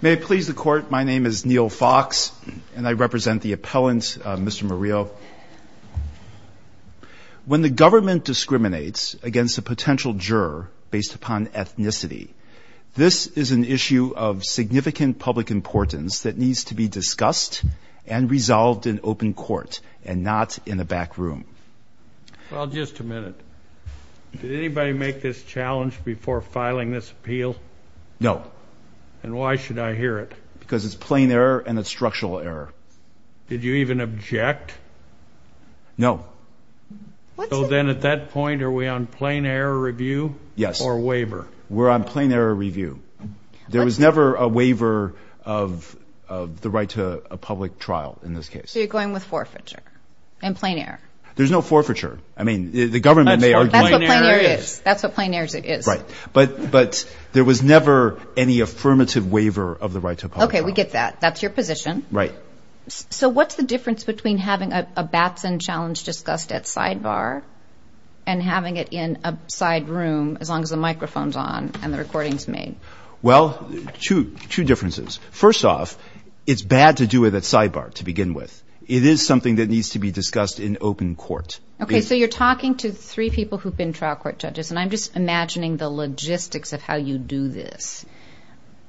May it please the court, my name is Neil Fox and I represent the appellant, Mr. Murillo. When the government discriminates against a potential juror based upon ethnicity, this is an issue of significant public importance that needs to be discussed and resolved in open court and not in a back room. Well, just a minute. Did anybody make this challenge before filing this appeal? No. And why should I hear it? Because it's plain error and it's structural error. Did you even object? No. So then at that point, are we on plain error review or waiver? Yes. We're on plain error review. There was never a waiver of the right to a public trial in this case. So you're going with forfeiture and plain error? There's no forfeiture. I mean, the government may argue. That's what plain error is. That's what plain error is. Right. But there was never any affirmative waiver of the right to a public trial. Okay. We get that. That's your position. Right. So what's the difference between having a Batson challenge discussed at sidebar and having it in a side room as long as the microphone's on and the recording's made? Well, two differences. First off, it's bad to do it at sidebar to begin with. It is something that needs to be discussed in open court. Okay. So you're talking to three people who've been trial court judges and I'm just imagining the logistics of how you do this.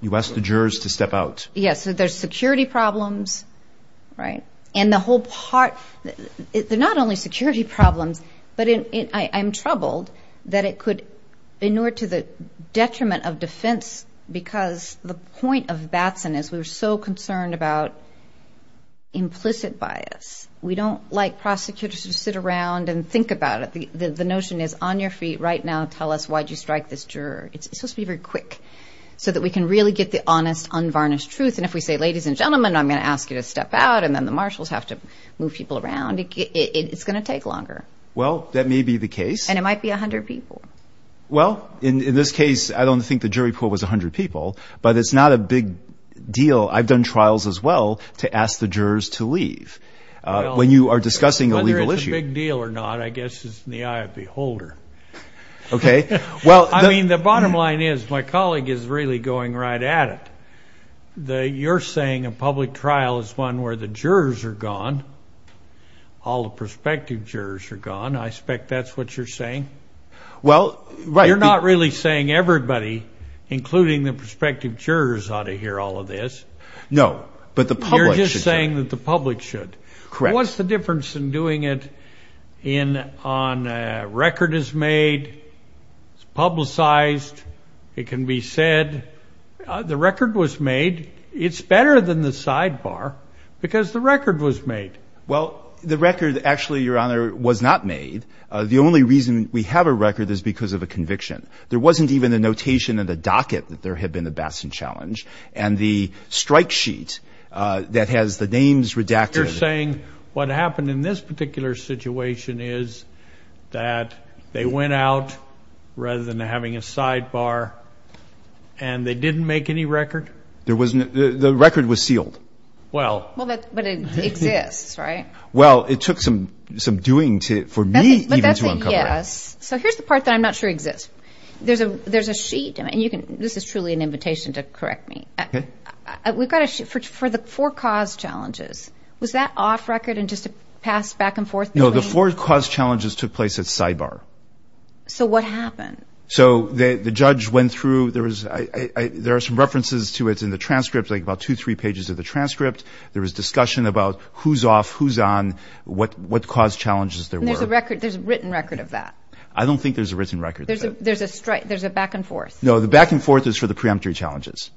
You ask the jurors to step out. Yes. So there's security problems, right? And the whole part, they're not only security problems, but I'm troubled that it could, in order to the detriment of defense, because the point of Batson is we were so concerned about implicit bias. We don't like prosecutors to sit around and think about it. The notion is, on your feet right now, tell us why'd you strike this juror. It's supposed to be very quick so that we can really get the honest, unvarnished truth. And if we say, ladies and gentlemen, I'm going to ask you to step out and then the marshals have to move people around, it's going to take longer. Well, that may be the case. And it might be a hundred people. Well, in this case, I don't think the jury pool was a hundred people, but it's not a big deal. I've done trials as well to ask the jurors to leave. When you are discussing a legal issue- I mean, the bottom line is, my colleague is really going right at it. You're saying a public trial is one where the jurors are gone, all the prospective jurors are gone. I expect that's what you're saying. You're not really saying everybody, including the prospective jurors, ought to hear all of this. No, but the public should. You're just saying that the public should. Correct. What's the difference in doing it on a record is made, it's publicized, it can be said. The record was made. It's better than the sidebar because the record was made. Well, the record actually, Your Honor, was not made. The only reason we have a record is because of a conviction. There wasn't even a notation in the docket that there had been a Batson challenge. And the strike sheet that has the names redacted- You're saying what happened in this particular situation is that they went out, rather than having a sidebar, and they didn't make any record? The record was sealed. Well, but it exists, right? Well, it took some doing for me even to uncover it. So here's the part that I'm not sure exists. There's a sheet, and this is truly an invitation to correct me, we've got a sheet for the four cause challenges. Was that off record and just a pass back and forth? No, the four cause challenges took place at sidebar. So what happened? So the judge went through, there are some references to it in the transcript, like about two, three pages of the transcript. There was discussion about who's off, who's on, what cause challenges there were. And there's a written record of that? I don't think there's a written record. There's a back and forth? No, the back and forth is for the preemptory challenges.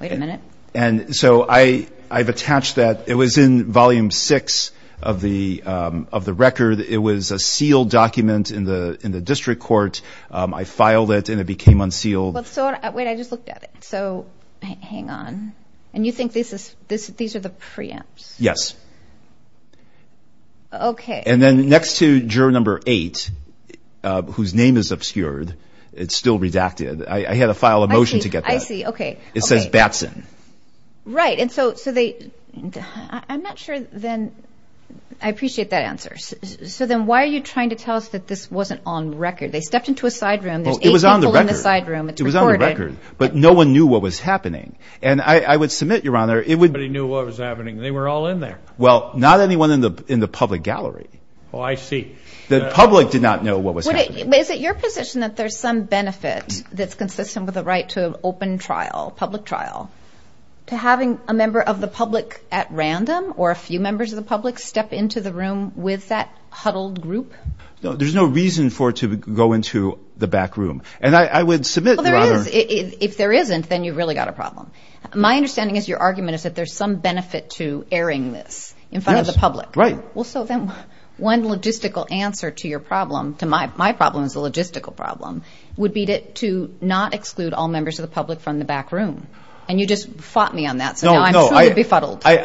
Wait a minute. And so I've attached that, it was in volume six of the record. It was a sealed document in the district court. I filed it and it became unsealed. Wait, I just looked at it. So hang on. And you think these are the preempts? Yes. Okay. And then next to juror number eight, whose name is obscured, it's still redacted. I had to file a motion to get that. I see. Okay. It says Batson. Right. And so they, I'm not sure then, I appreciate that answer. So then why are you trying to tell us that this wasn't on record? They stepped into a side room, there's eight people in the side room, it's recorded. It was on the record. But no one knew what was happening. And I would submit, Your Honor, it would- Nobody knew what was happening. They were all in there. Well, not anyone in the public gallery. Oh, I see. The public did not know what was happening. Is it your position that there's some benefit that's consistent with the right to an open trial, public trial, to having a member of the public at random, or a few members of the public step into the room with that huddled group? There's no reason for it to go into the back room. And I would submit, Your Honor- Well, there is. If there isn't, then you've really got a problem. My understanding is your argument is that there's some benefit to airing this in front of the public. Yes. Right. Well, so then one logistical answer to your problem, to my problem as a logistical problem, would be to not exclude all members of the public from the back room. And you just fought me on that, so now I'm truly befuddled. No, no.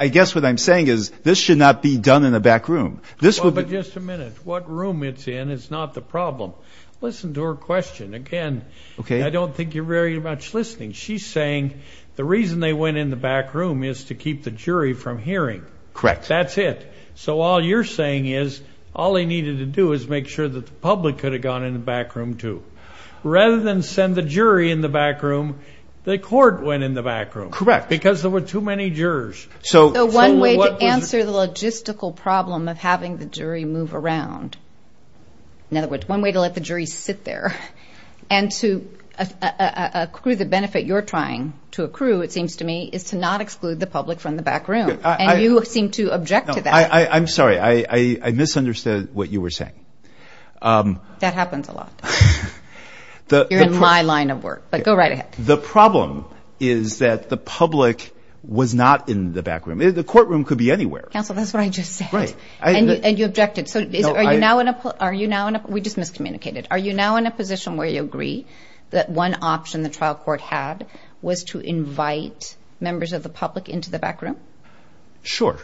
I guess what I'm saying is, this should not be done in the back room. This would- Well, but just a minute. What room it's in is not the problem. Listen to her question. Again- Okay. I don't think you're very much listening. She's saying the reason they went in the back room is to keep the jury from hearing. Correct. That's it. So all you're saying is, all they needed to do is make sure that the public could have gone in the back room, too, rather than send the jury in the back room, the court went in the back room. Correct. Because there were too many jurors. So what was- So one way to answer the logistical problem of having the jury move around, in other words, one way to let the jury sit there, and to accrue the benefit you're trying to accrue, it seems to me, is to not exclude the public from the back room, and you seem to object to that. I'm sorry. I misunderstood what you were saying. That happens a lot. You're in my line of work, but go right ahead. The problem is that the public was not in the back room. The courtroom could be anywhere. Counsel, that's what I just said. Right. And you objected. So are you now in a- No, I- Are you now in a- We just miscommunicated. Are you now in a position where you agree that one option the trial court had was to invite members of the public into the back room? Sure.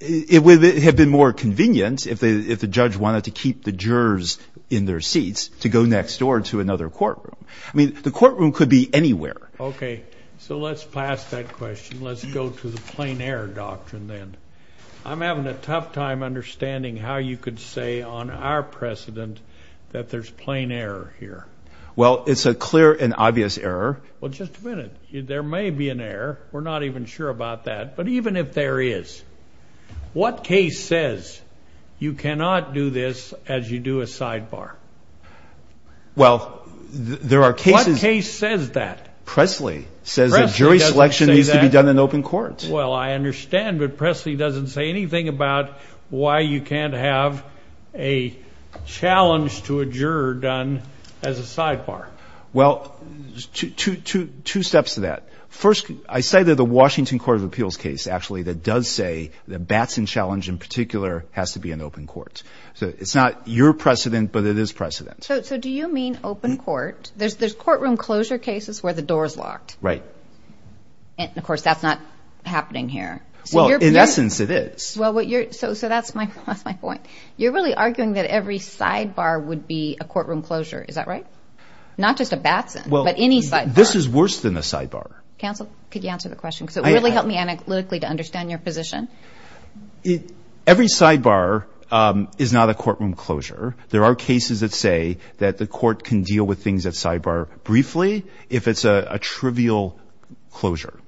It would have been more convenient if the judge wanted to keep the jurors in their seats to go next door to another courtroom. I mean, the courtroom could be anywhere. Okay. So let's pass that question. Let's go to the plain error doctrine then. I'm having a tough time understanding how you could say on our precedent that there's plain error here. Well, it's a clear and obvious error. Well, just a minute. There may be an error. We're not even sure about that. But even if there is, what case says you cannot do this as you do a sidebar? Well, there are cases- What case says that? Presley says that jury selection needs to be done in open court. Well, I understand, but Presley doesn't say anything about why you can't have a challenge to a juror done as a sidebar. Well, two steps to that. First, I say that the Washington Court of Appeals case actually that does say the Batson challenge in particular has to be an open court. So it's not your precedent, but it is precedent. So do you mean open court? There's courtroom closure cases where the door's locked. Right. And of course, that's not happening here. Well, in essence, it is. So that's my point. You're really arguing that every sidebar would be a courtroom closure. Is that right? Not just a Batson, but any sidebar. This is worse than a sidebar. Counsel, could you answer the question? Because it really helped me analytically to understand your position. Every sidebar is not a courtroom closure. There are cases that say that the court can deal with things at sidebar briefly if it's a trivial closure.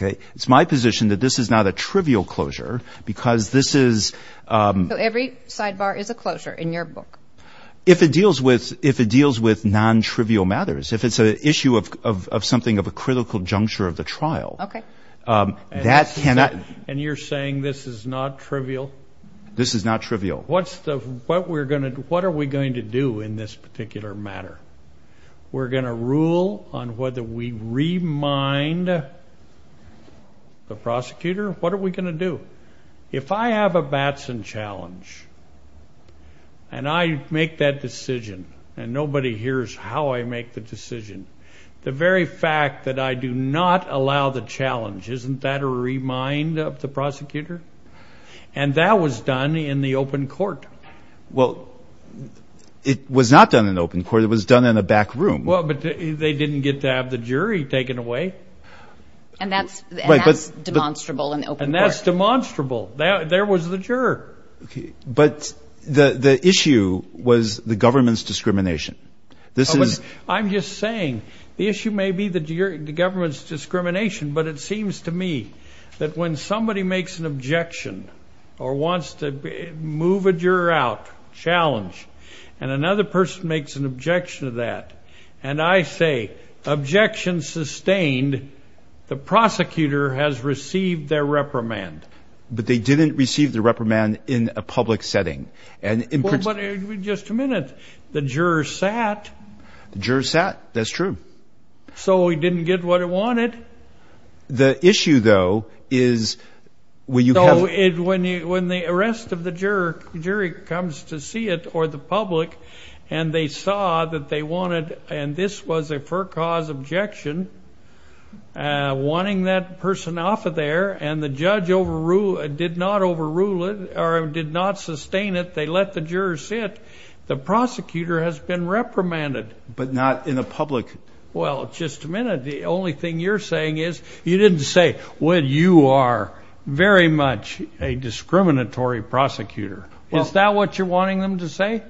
It's my position that this is not a trivial closure because this is- Every sidebar is a closure in your book. If it deals with non-trivial matters. If it's an issue of something of a critical juncture of the trial, that cannot- And you're saying this is not trivial? This is not trivial. What are we going to do in this particular matter? We're going to rule on whether we remind the prosecutor? What are we going to do? If I have a Batson challenge, and I make that decision, and nobody hears how I make the decision, the very fact that I do not allow the challenge, isn't that a remind of the prosecutor? And that was done in the open court. Well, it was not done in the open court, it was done in a back room. Well, but they didn't get to have the jury taken away. And that's demonstrable in the open court. And that's demonstrable. There was the juror. But the issue was the government's discrimination. I'm just saying, the issue may be the government's discrimination, but it seems to me that when somebody makes an objection, or wants to move a juror out, challenge, and another person makes an objection to that, and I say, objection sustained, the prosecutor has received their reprimand. But they didn't receive the reprimand in a public setting. Well, but, just a minute. The juror sat. The juror sat, that's true. So he didn't get what he wanted. The issue, though, is when you have... When the arrest of the juror, the jury comes to see it, or the public, and they saw that they wanted, and this was a for-cause objection, wanting that person off of there, and the juror sat. They let the juror sit. The prosecutor has been reprimanded. But not in a public... Well, just a minute. The only thing you're saying is, you didn't say, well, you are very much a discriminatory prosecutor. Is that what you're wanting them to say?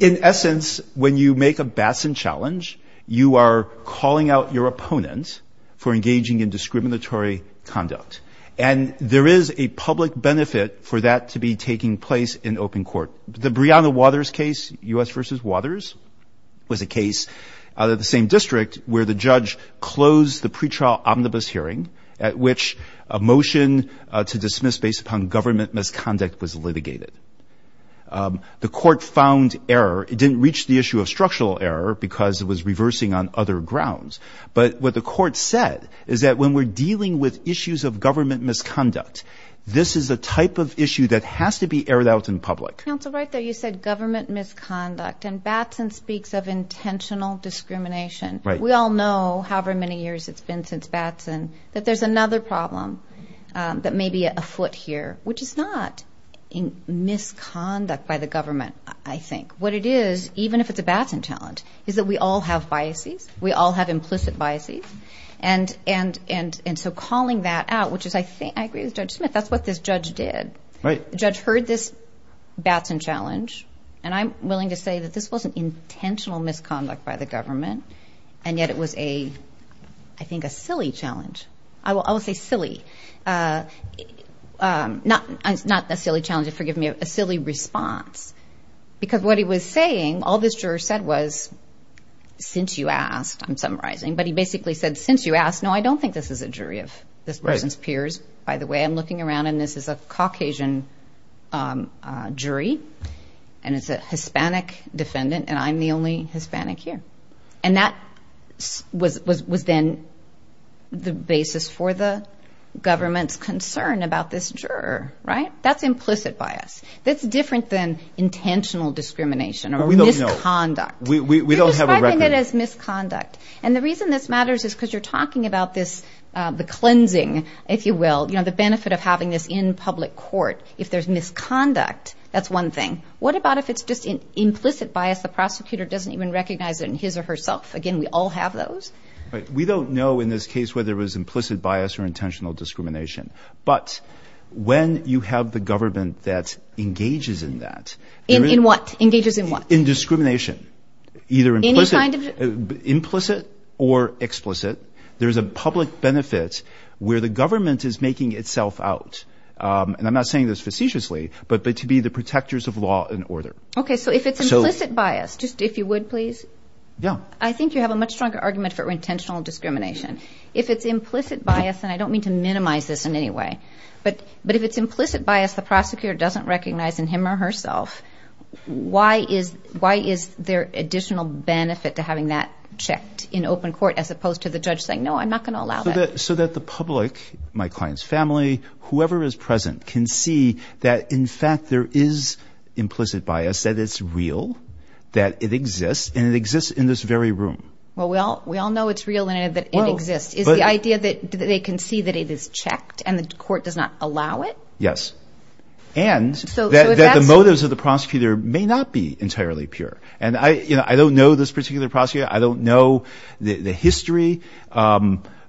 In essence, when you make a Batson challenge, you are calling out your opponent for engaging in discriminatory conduct. And there is a public benefit for that to be taking place in open court. The Breonna Waters case, U.S. v. Waters, was a case out of the same district where the judge closed the pretrial omnibus hearing at which a motion to dismiss based upon government misconduct was litigated. The court found error. It didn't reach the issue of structural error because it was reversing on other grounds. But what the court said is that when we're dealing with issues of government misconduct, this is a type of issue that has to be aired out in public. Counsel, right there, you said government misconduct. And Batson speaks of intentional discrimination. We all know, however many years it's been since Batson, that there's another problem that may be afoot here, which is not misconduct by the government, I think. What it is, even if it's a Batson challenge, is that we all have biases. We all have implicit biases. And so calling that out, which is, I think, I agree with Judge Smith, that's what this judge did. Right. The judge heard this Batson challenge, and I'm willing to say that this wasn't intentional misconduct by the government, and yet it was a, I think, a silly challenge. I will say silly, not a silly challenge, forgive me, a silly response. Because what he was saying, all this juror said was, since you asked, I'm summarizing, but he basically said, since you asked, no, I don't think this is a jury of this person's peers, by the way. I'm looking around, and this is a Caucasian jury, and it's a Hispanic defendant, and I'm the only Hispanic here. And that was then the basis for the government's concern about this juror, right? That's implicit bias. That's different than intentional discrimination or misconduct. We don't have a record. You're describing it as misconduct, and the reason this matters is because you're talking about this, the cleansing, if you will, the benefit of having this in public court. If there's misconduct, that's one thing. What about if it's just implicit bias, the prosecutor doesn't even recognize it in his or herself? Again, we all have those. We don't know in this case whether it was implicit bias or intentional discrimination. But when you have the government that engages in that... In what? Engages in what? In discrimination, either implicit or explicit. There's a public benefit where the government is making itself out, and I'm not saying this facetiously, but to be the protectors of law and order. Okay, so if it's implicit bias, just if you would, please. I think you have a much stronger argument for intentional discrimination. If it's implicit bias, and I don't mean to minimize this in any way, but if it's implicit bias, the prosecutor doesn't recognize in him or herself, why is there additional benefit to having that checked in open court as opposed to the judge saying, no, I'm not going to allow that? So that the public, my client's family, whoever is present can see that in fact there is implicit bias, that it's real, that it exists, and it exists in this very room. Well, we all know it's real and that it exists. Is the idea that they can see that it is checked and the court does not allow it? Yes. And that the motives of the prosecutor may not be entirely pure. And I don't know this particular prosecutor. I don't know the history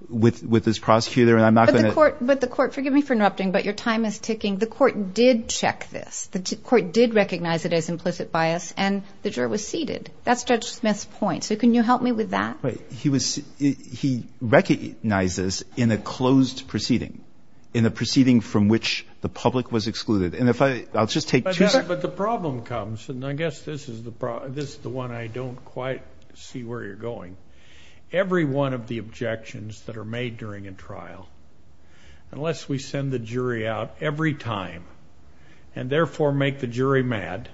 with this prosecutor, and I'm not going to... But the court, forgive me for interrupting, but your time is ticking. The court did check this. The court did recognize it as implicit bias, and the juror was seated. That's Judge Smith's point. So can you help me with that? He recognizes in a closed proceeding, in a proceeding from which the public was excluded. And if I... I'll just take two seconds. But the problem comes, and I guess this is the one I don't quite see where you're going. Every one of the objections that are made during a trial, unless we send the jury out every time, and therefore make the jury mad,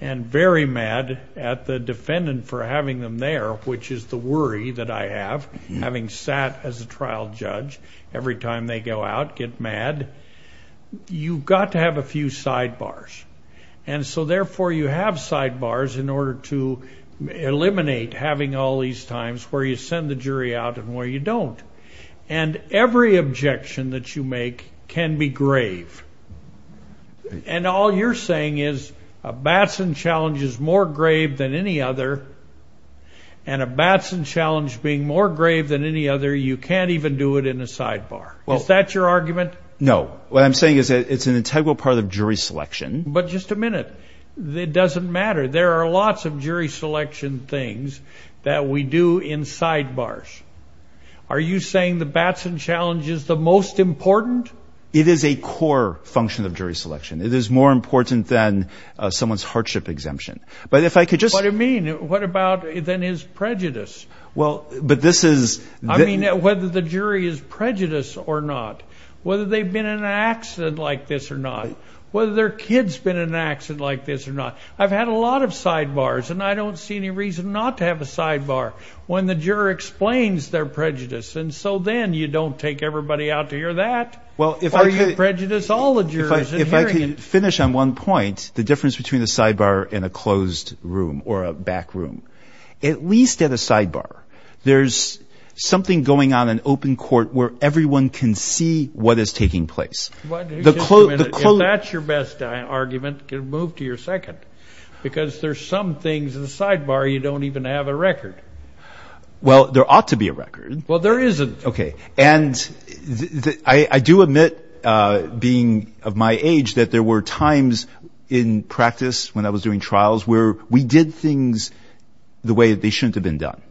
and very mad at the defendant for having them there, which is the worry that I have, having sat as a trial judge every time they go out, get mad, you've got to have a few sidebars. And so therefore you have sidebars in order to eliminate having all these times where you send the jury out and where you don't. And every objection that you make can be grave. And all you're saying is a Batson challenge is more grave than any other, and a Batson challenge being more grave than any other, you can't even do it in a sidebar. Is that your argument? No. What I'm saying is that it's an integral part of jury selection. But just a minute. It doesn't matter. There are lots of jury selection things that we do in sidebars. Are you saying the Batson challenge is the most important? It is a core function of jury selection. It is more important than someone's hardship exemption. But if I could just... What do you mean? What about, then, his prejudice? Well, but this is... I mean, whether the jury is prejudiced or not, whether they've been in an accident like this or not, whether their kid's been in an accident like this or not, I've had a lot of sidebars, and I don't see any reason not to have a sidebar when the juror explains their prejudice. And so then, you don't take everybody out to hear that. Well, if I could... Such prejudice all the jurors are hearing. If I could finish on one point, the difference between a sidebar in a closed room or a back room. At least at a sidebar, there's something going on in open court where everyone can see what is taking place. Just a minute. If that's your best argument, move to your second. Because there's some things in the sidebar you don't even have a record. Well, there ought to be a record. Well, there isn't. Okay. And I do admit, being of my age, that there were times in practice when I was doing trials where we did things the way that they shouldn't have been done.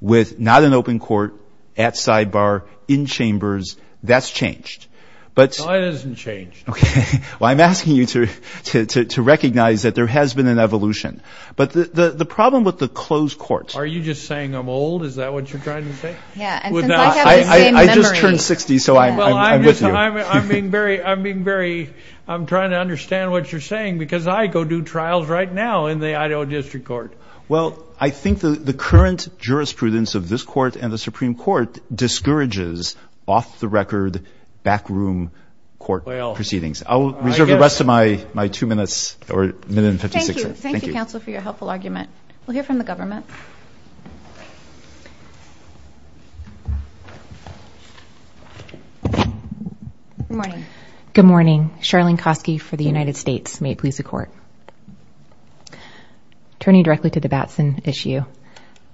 With not in open court, at sidebar, in chambers, that's changed. But... No, it hasn't changed. Okay. Well, I'm asking you to recognize that there has been an evolution. But the problem with the closed courts... Are you just saying I'm old? Is that what you're trying to say? Yeah. And since I have the same memory... I just turned 60, so I'm with you. Well, I'm just... I'm being very... I'm being very... I'm trying to understand what you're saying, because I go do trials right now in the Idaho District Court. Well, I think the current jurisprudence of this court and the Supreme Court discourages off-the-record backroom court proceedings. I'll reserve the rest of my two minutes or minute and 56 seconds. Thank you. Thank you. Thank you, counsel, for your helpful argument. We'll hear from the government. Good morning. Good morning. Charlene Koski for the United States. May it please the court. Turning directly to the Batson issue.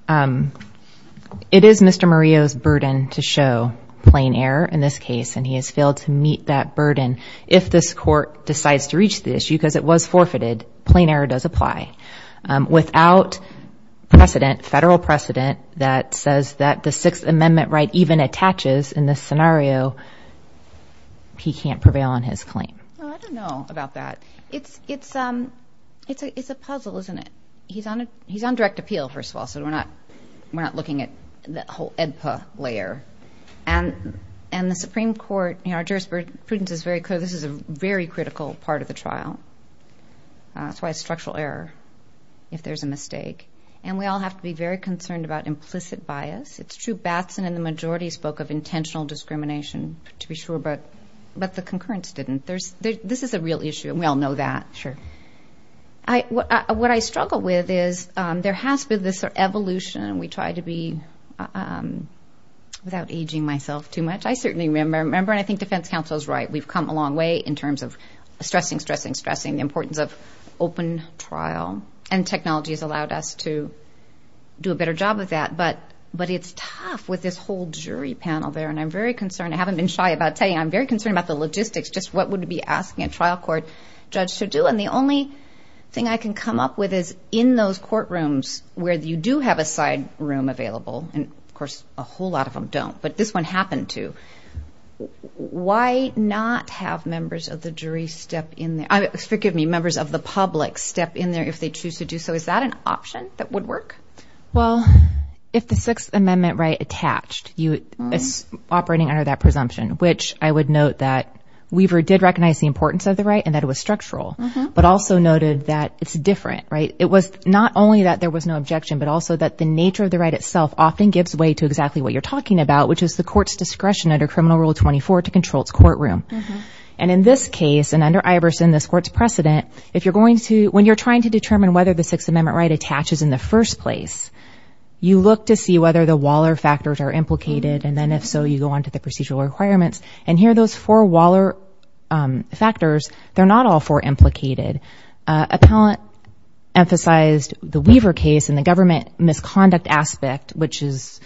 It is Mr. Murillo's burden to show plain error in this case, and he has failed to meet that burden if this court decides to reach the issue, because it was forfeited, plain error does apply. Without precedent, federal precedent, that says that the Sixth Amendment right even attaches in this scenario, he can't prevail on his claim. Well, I don't know about that. It's a puzzle, isn't it? He's on direct appeal, first of all, so we're not looking at the whole EDPA layer. And the Supreme Court, our jurisprudence is very clear, this is a very critical part of the trial. That's why it's structural error if there's a mistake. And we all have to be very concerned about implicit bias. It's true, Batson and the majority spoke of intentional discrimination, to be sure, but the concurrence didn't. This is a real issue, and we all know that. Sure. What I struggle with is there has been this evolution, and we try to be, without aging myself too much, I certainly remember, and I think defense counsel is right, we've come a long way in terms of stressing, stressing, stressing the importance of open trial. And technology has allowed us to do a better job of that. But it's tough with this whole jury panel there, and I'm very concerned, I haven't been shy about telling you, I'm very concerned about the logistics, just what would it be asking a trial court judge to do? And the only thing I can come up with is in those courtrooms where you do have a side room available, and of course a whole lot of them don't, but this one happened to, why not have members of the jury step in there? Forgive me, members of the public step in there if they choose to do so. Is that an option that would work? Well, if the Sixth Amendment right attached, it's operating under that presumption, which I would note that Weaver did recognize the importance of the right and that it was structural, but also noted that it's different, right? It was not only that there was no objection, but also that the nature of the right itself often gives way to exactly what you're talking about, which is the court's discretion under Criminal Rule 24 to control its courtroom. And in this case, and under Iverson, this court's precedent, if you're going to, when you're trying to determine whether the Sixth Amendment right attaches in the first place, you look to see whether the Waller factors are implicated, and then if so, you go on to the procedural requirements, and here those four Waller factors, they're not all four implicated. Appellant emphasized the Weaver case and the government misconduct aspect, which is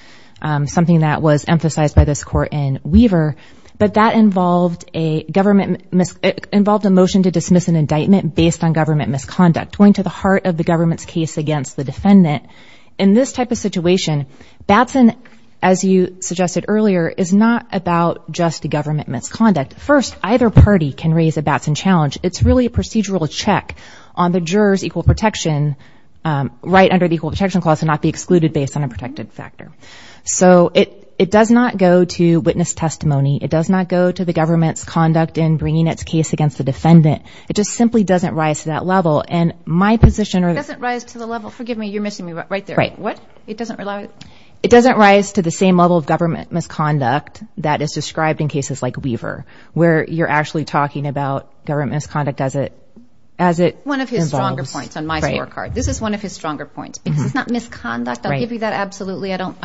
something that was emphasized by this court in Weaver, but that involved a government, involved a motion to dismiss an indictment based on government misconduct, going to the heart of the government's case against the defendant. In this type of situation, Batson, as you suggested earlier, is not about just the government misconduct. First, either party can raise a Batson challenge. It's really a procedural check on the juror's equal protection right under the Equal Protection Clause to not be excluded based on a protected factor. So, it does not go to witness testimony. It does not go to the government's conduct in bringing its case against the defendant. It just simply doesn't rise to that level, and my position... It doesn't rise to the level... Forgive me. You're missing me right there. Right. What? It doesn't... It doesn't rise to the same level of government misconduct that is described in cases like Weaver, where you're actually talking about government misconduct as it... One of his stronger points on my scorecard. Right. This is one of his stronger points, because it's not misconduct. Right. I give you that absolutely. I don't...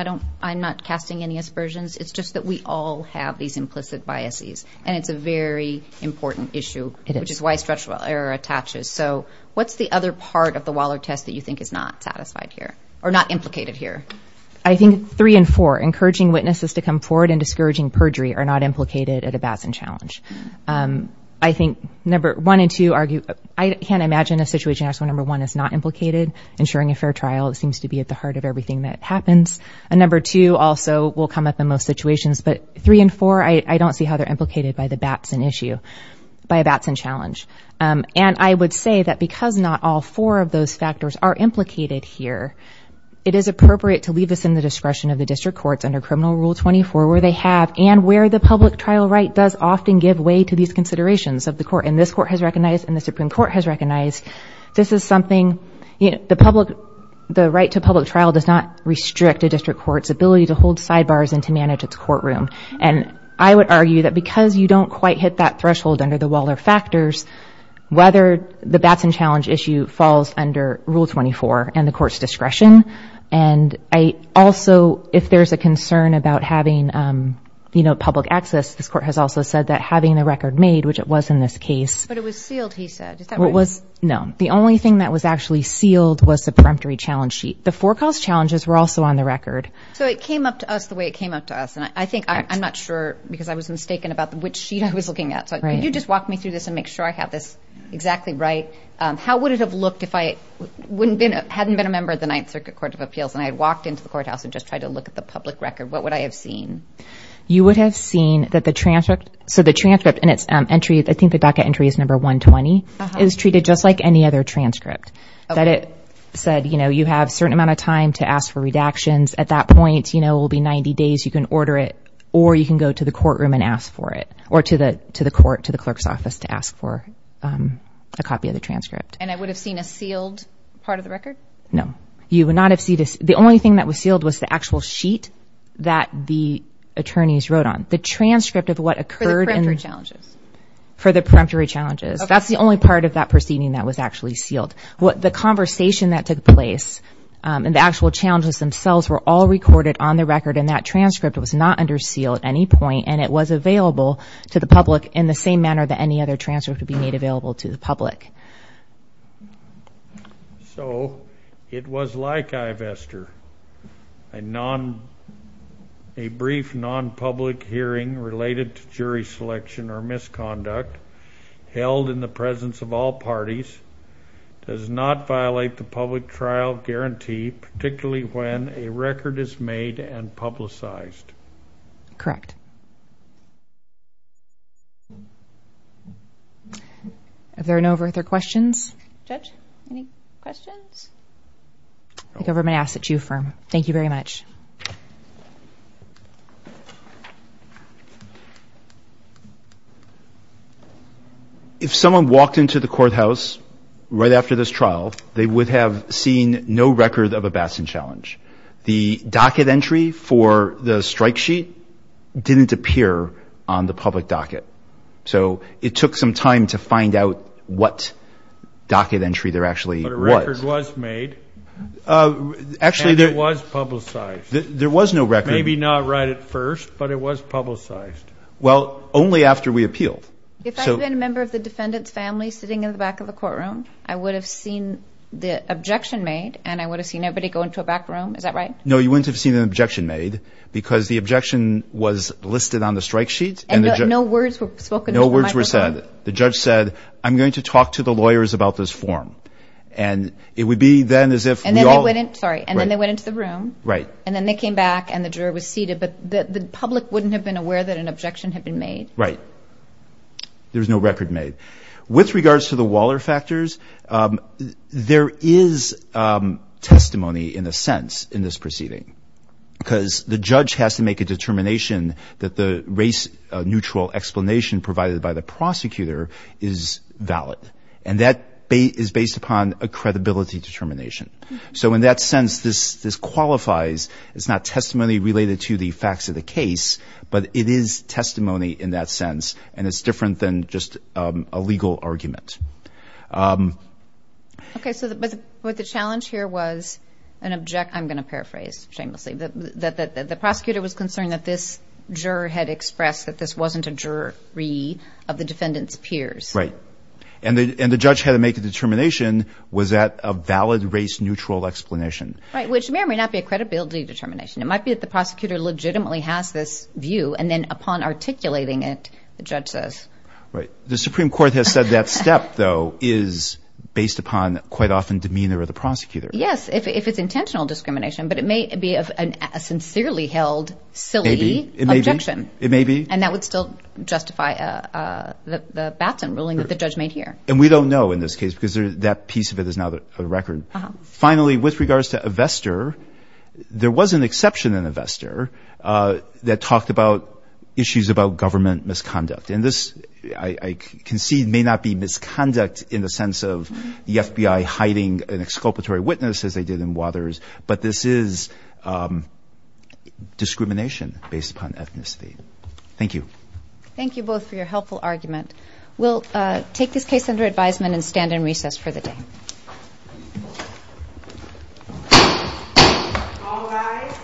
I'm not casting any aspersions. It's just that we all have these implicit biases, and it's a very important issue, which is why structural error attaches. So, what's the other part of the Waller test that you think is not satisfied here, or not implicated here? I think three and four, encouraging witnesses to come forward and discouraging perjury, are not implicated at a Batson challenge. I think number one and two argue... I can't imagine a situation where number one is not implicated. Ensuring a fair trial seems to be at the heart of everything that happens. And number two also will come up in most situations. But three and four, I don't see how they're implicated by the Batson issue, by a Batson challenge. And I would say that because not all four of those factors are implicated here, it is appropriate to leave this in the discretion of the district courts under Criminal Rule 24, where they have, and where the public trial right does often give way to these considerations of the court. And this court has recognized, and the Supreme Court has recognized, this is something... The right to public trial does not restrict a district court's ability to hold sidebars and to manage its courtroom. And I would argue that because you don't quite hit that threshold under the Waller factors, whether the Batson challenge issue falls under Rule 24 and the court's discretion. And I also, if there's a concern about having public access, this court has also said that having the record made, which it was in this case... But it was sealed, he said. Is that right? No. The only thing that was actually sealed was the preemptory challenge sheet. The forecast challenges were also on the record. So it came up to us the way it came up to us. And I think... I'm not sure because I was mistaken about which sheet I was looking at. So could you just walk me through this and make sure I have this exactly right? How would it have looked if I hadn't been a member of the Ninth Circuit Court of Appeals and I had walked into the courthouse and just tried to look at the public record? What would I have seen? You would have seen that the transcript... I think the docket entry is number 120. It was treated just like any other transcript. That it said, you know, you have a certain amount of time to ask for redactions. At that point, you know, it will be 90 days. You can order it or you can go to the courtroom and ask for it or to the court, to the clerk's office to ask for a copy of the transcript. And I would have seen a sealed part of the record? No. You would not have seen... The only thing that was sealed was the actual sheet that the attorneys wrote on. The transcript of what occurred in... For the preemptory challenges. For the preemptory challenges. That's the only part of that proceeding that was actually sealed. The conversation that took place and the actual challenges themselves were all recorded on the record, and that transcript was not under seal at any point, and it was available to the public in the same manner that any other transcript would be made available to the public. So, it was like Ivester. A brief non-public hearing related to jury selection or misconduct held in the presence of all parties does not violate the public trial guarantee, particularly when a record is made and publicized. Correct. Thank you. Are there no further questions? Judge, any questions? The government asks that you affirm. Thank you very much. If someone walked into the courthouse right after this trial, they would have seen no record of a Bastion Challenge. The docket entry for the strike sheet didn't appear on the public docket. So, it took some time to find out what docket entry there actually was. But a record was made, and it was publicized. There was no record. Maybe not right at first, but it was publicized. Well, only after we appealed. If I had been a member of the defendant's family sitting in the back of the courtroom, I would have seen the objection made, and I would have seen everybody go into a back room. Is that right? No, you wouldn't have seen an objection made because the objection was listed on the strike sheet. And no words were spoken? No words were said. The judge said, I'm going to talk to the lawyers about this form. And it would be then as if we all – And then they went into the room. Right. And then they came back, and the juror was seated. But the public wouldn't have been aware that an objection had been made. Right. There was no record made. With regards to the Waller factors, there is testimony in a sense in this proceeding because the judge has to make a determination that the race-neutral explanation provided by the prosecutor is valid, and that is based upon a credibility determination. So in that sense, this qualifies. It's not testimony related to the facts of the case, but it is testimony in that sense, and it's different than just a legal argument. Okay. But the challenge here was an – I'm going to paraphrase shamelessly. The prosecutor was concerned that this juror had expressed that this wasn't a jury of the defendant's peers. Right. And the judge had to make a determination, was that a valid race-neutral explanation? Right, which may or may not be a credibility determination. It might be that the prosecutor legitimately has this view, and then upon articulating it, the judge says. Right. The Supreme Court has said that step, though, is based upon quite often demeanor of the prosecutor. Yes, if it's intentional discrimination, but it may be a sincerely held silly objection. It may be. And that would still justify the Batson ruling that the judge made here. And we don't know in this case because that piece of it is not a record. Finally, with regards to a vesture, there was an exception in the vesture that talked about issues about government misconduct. And this, I concede, may not be misconduct in the sense of the FBI hiding an exculpatory witness, as they did in Wathers, but this is discrimination based upon ethnicity. Thank you. Thank you both for your helpful argument. We'll take this case under advisement and stand in recess for the day. All rise.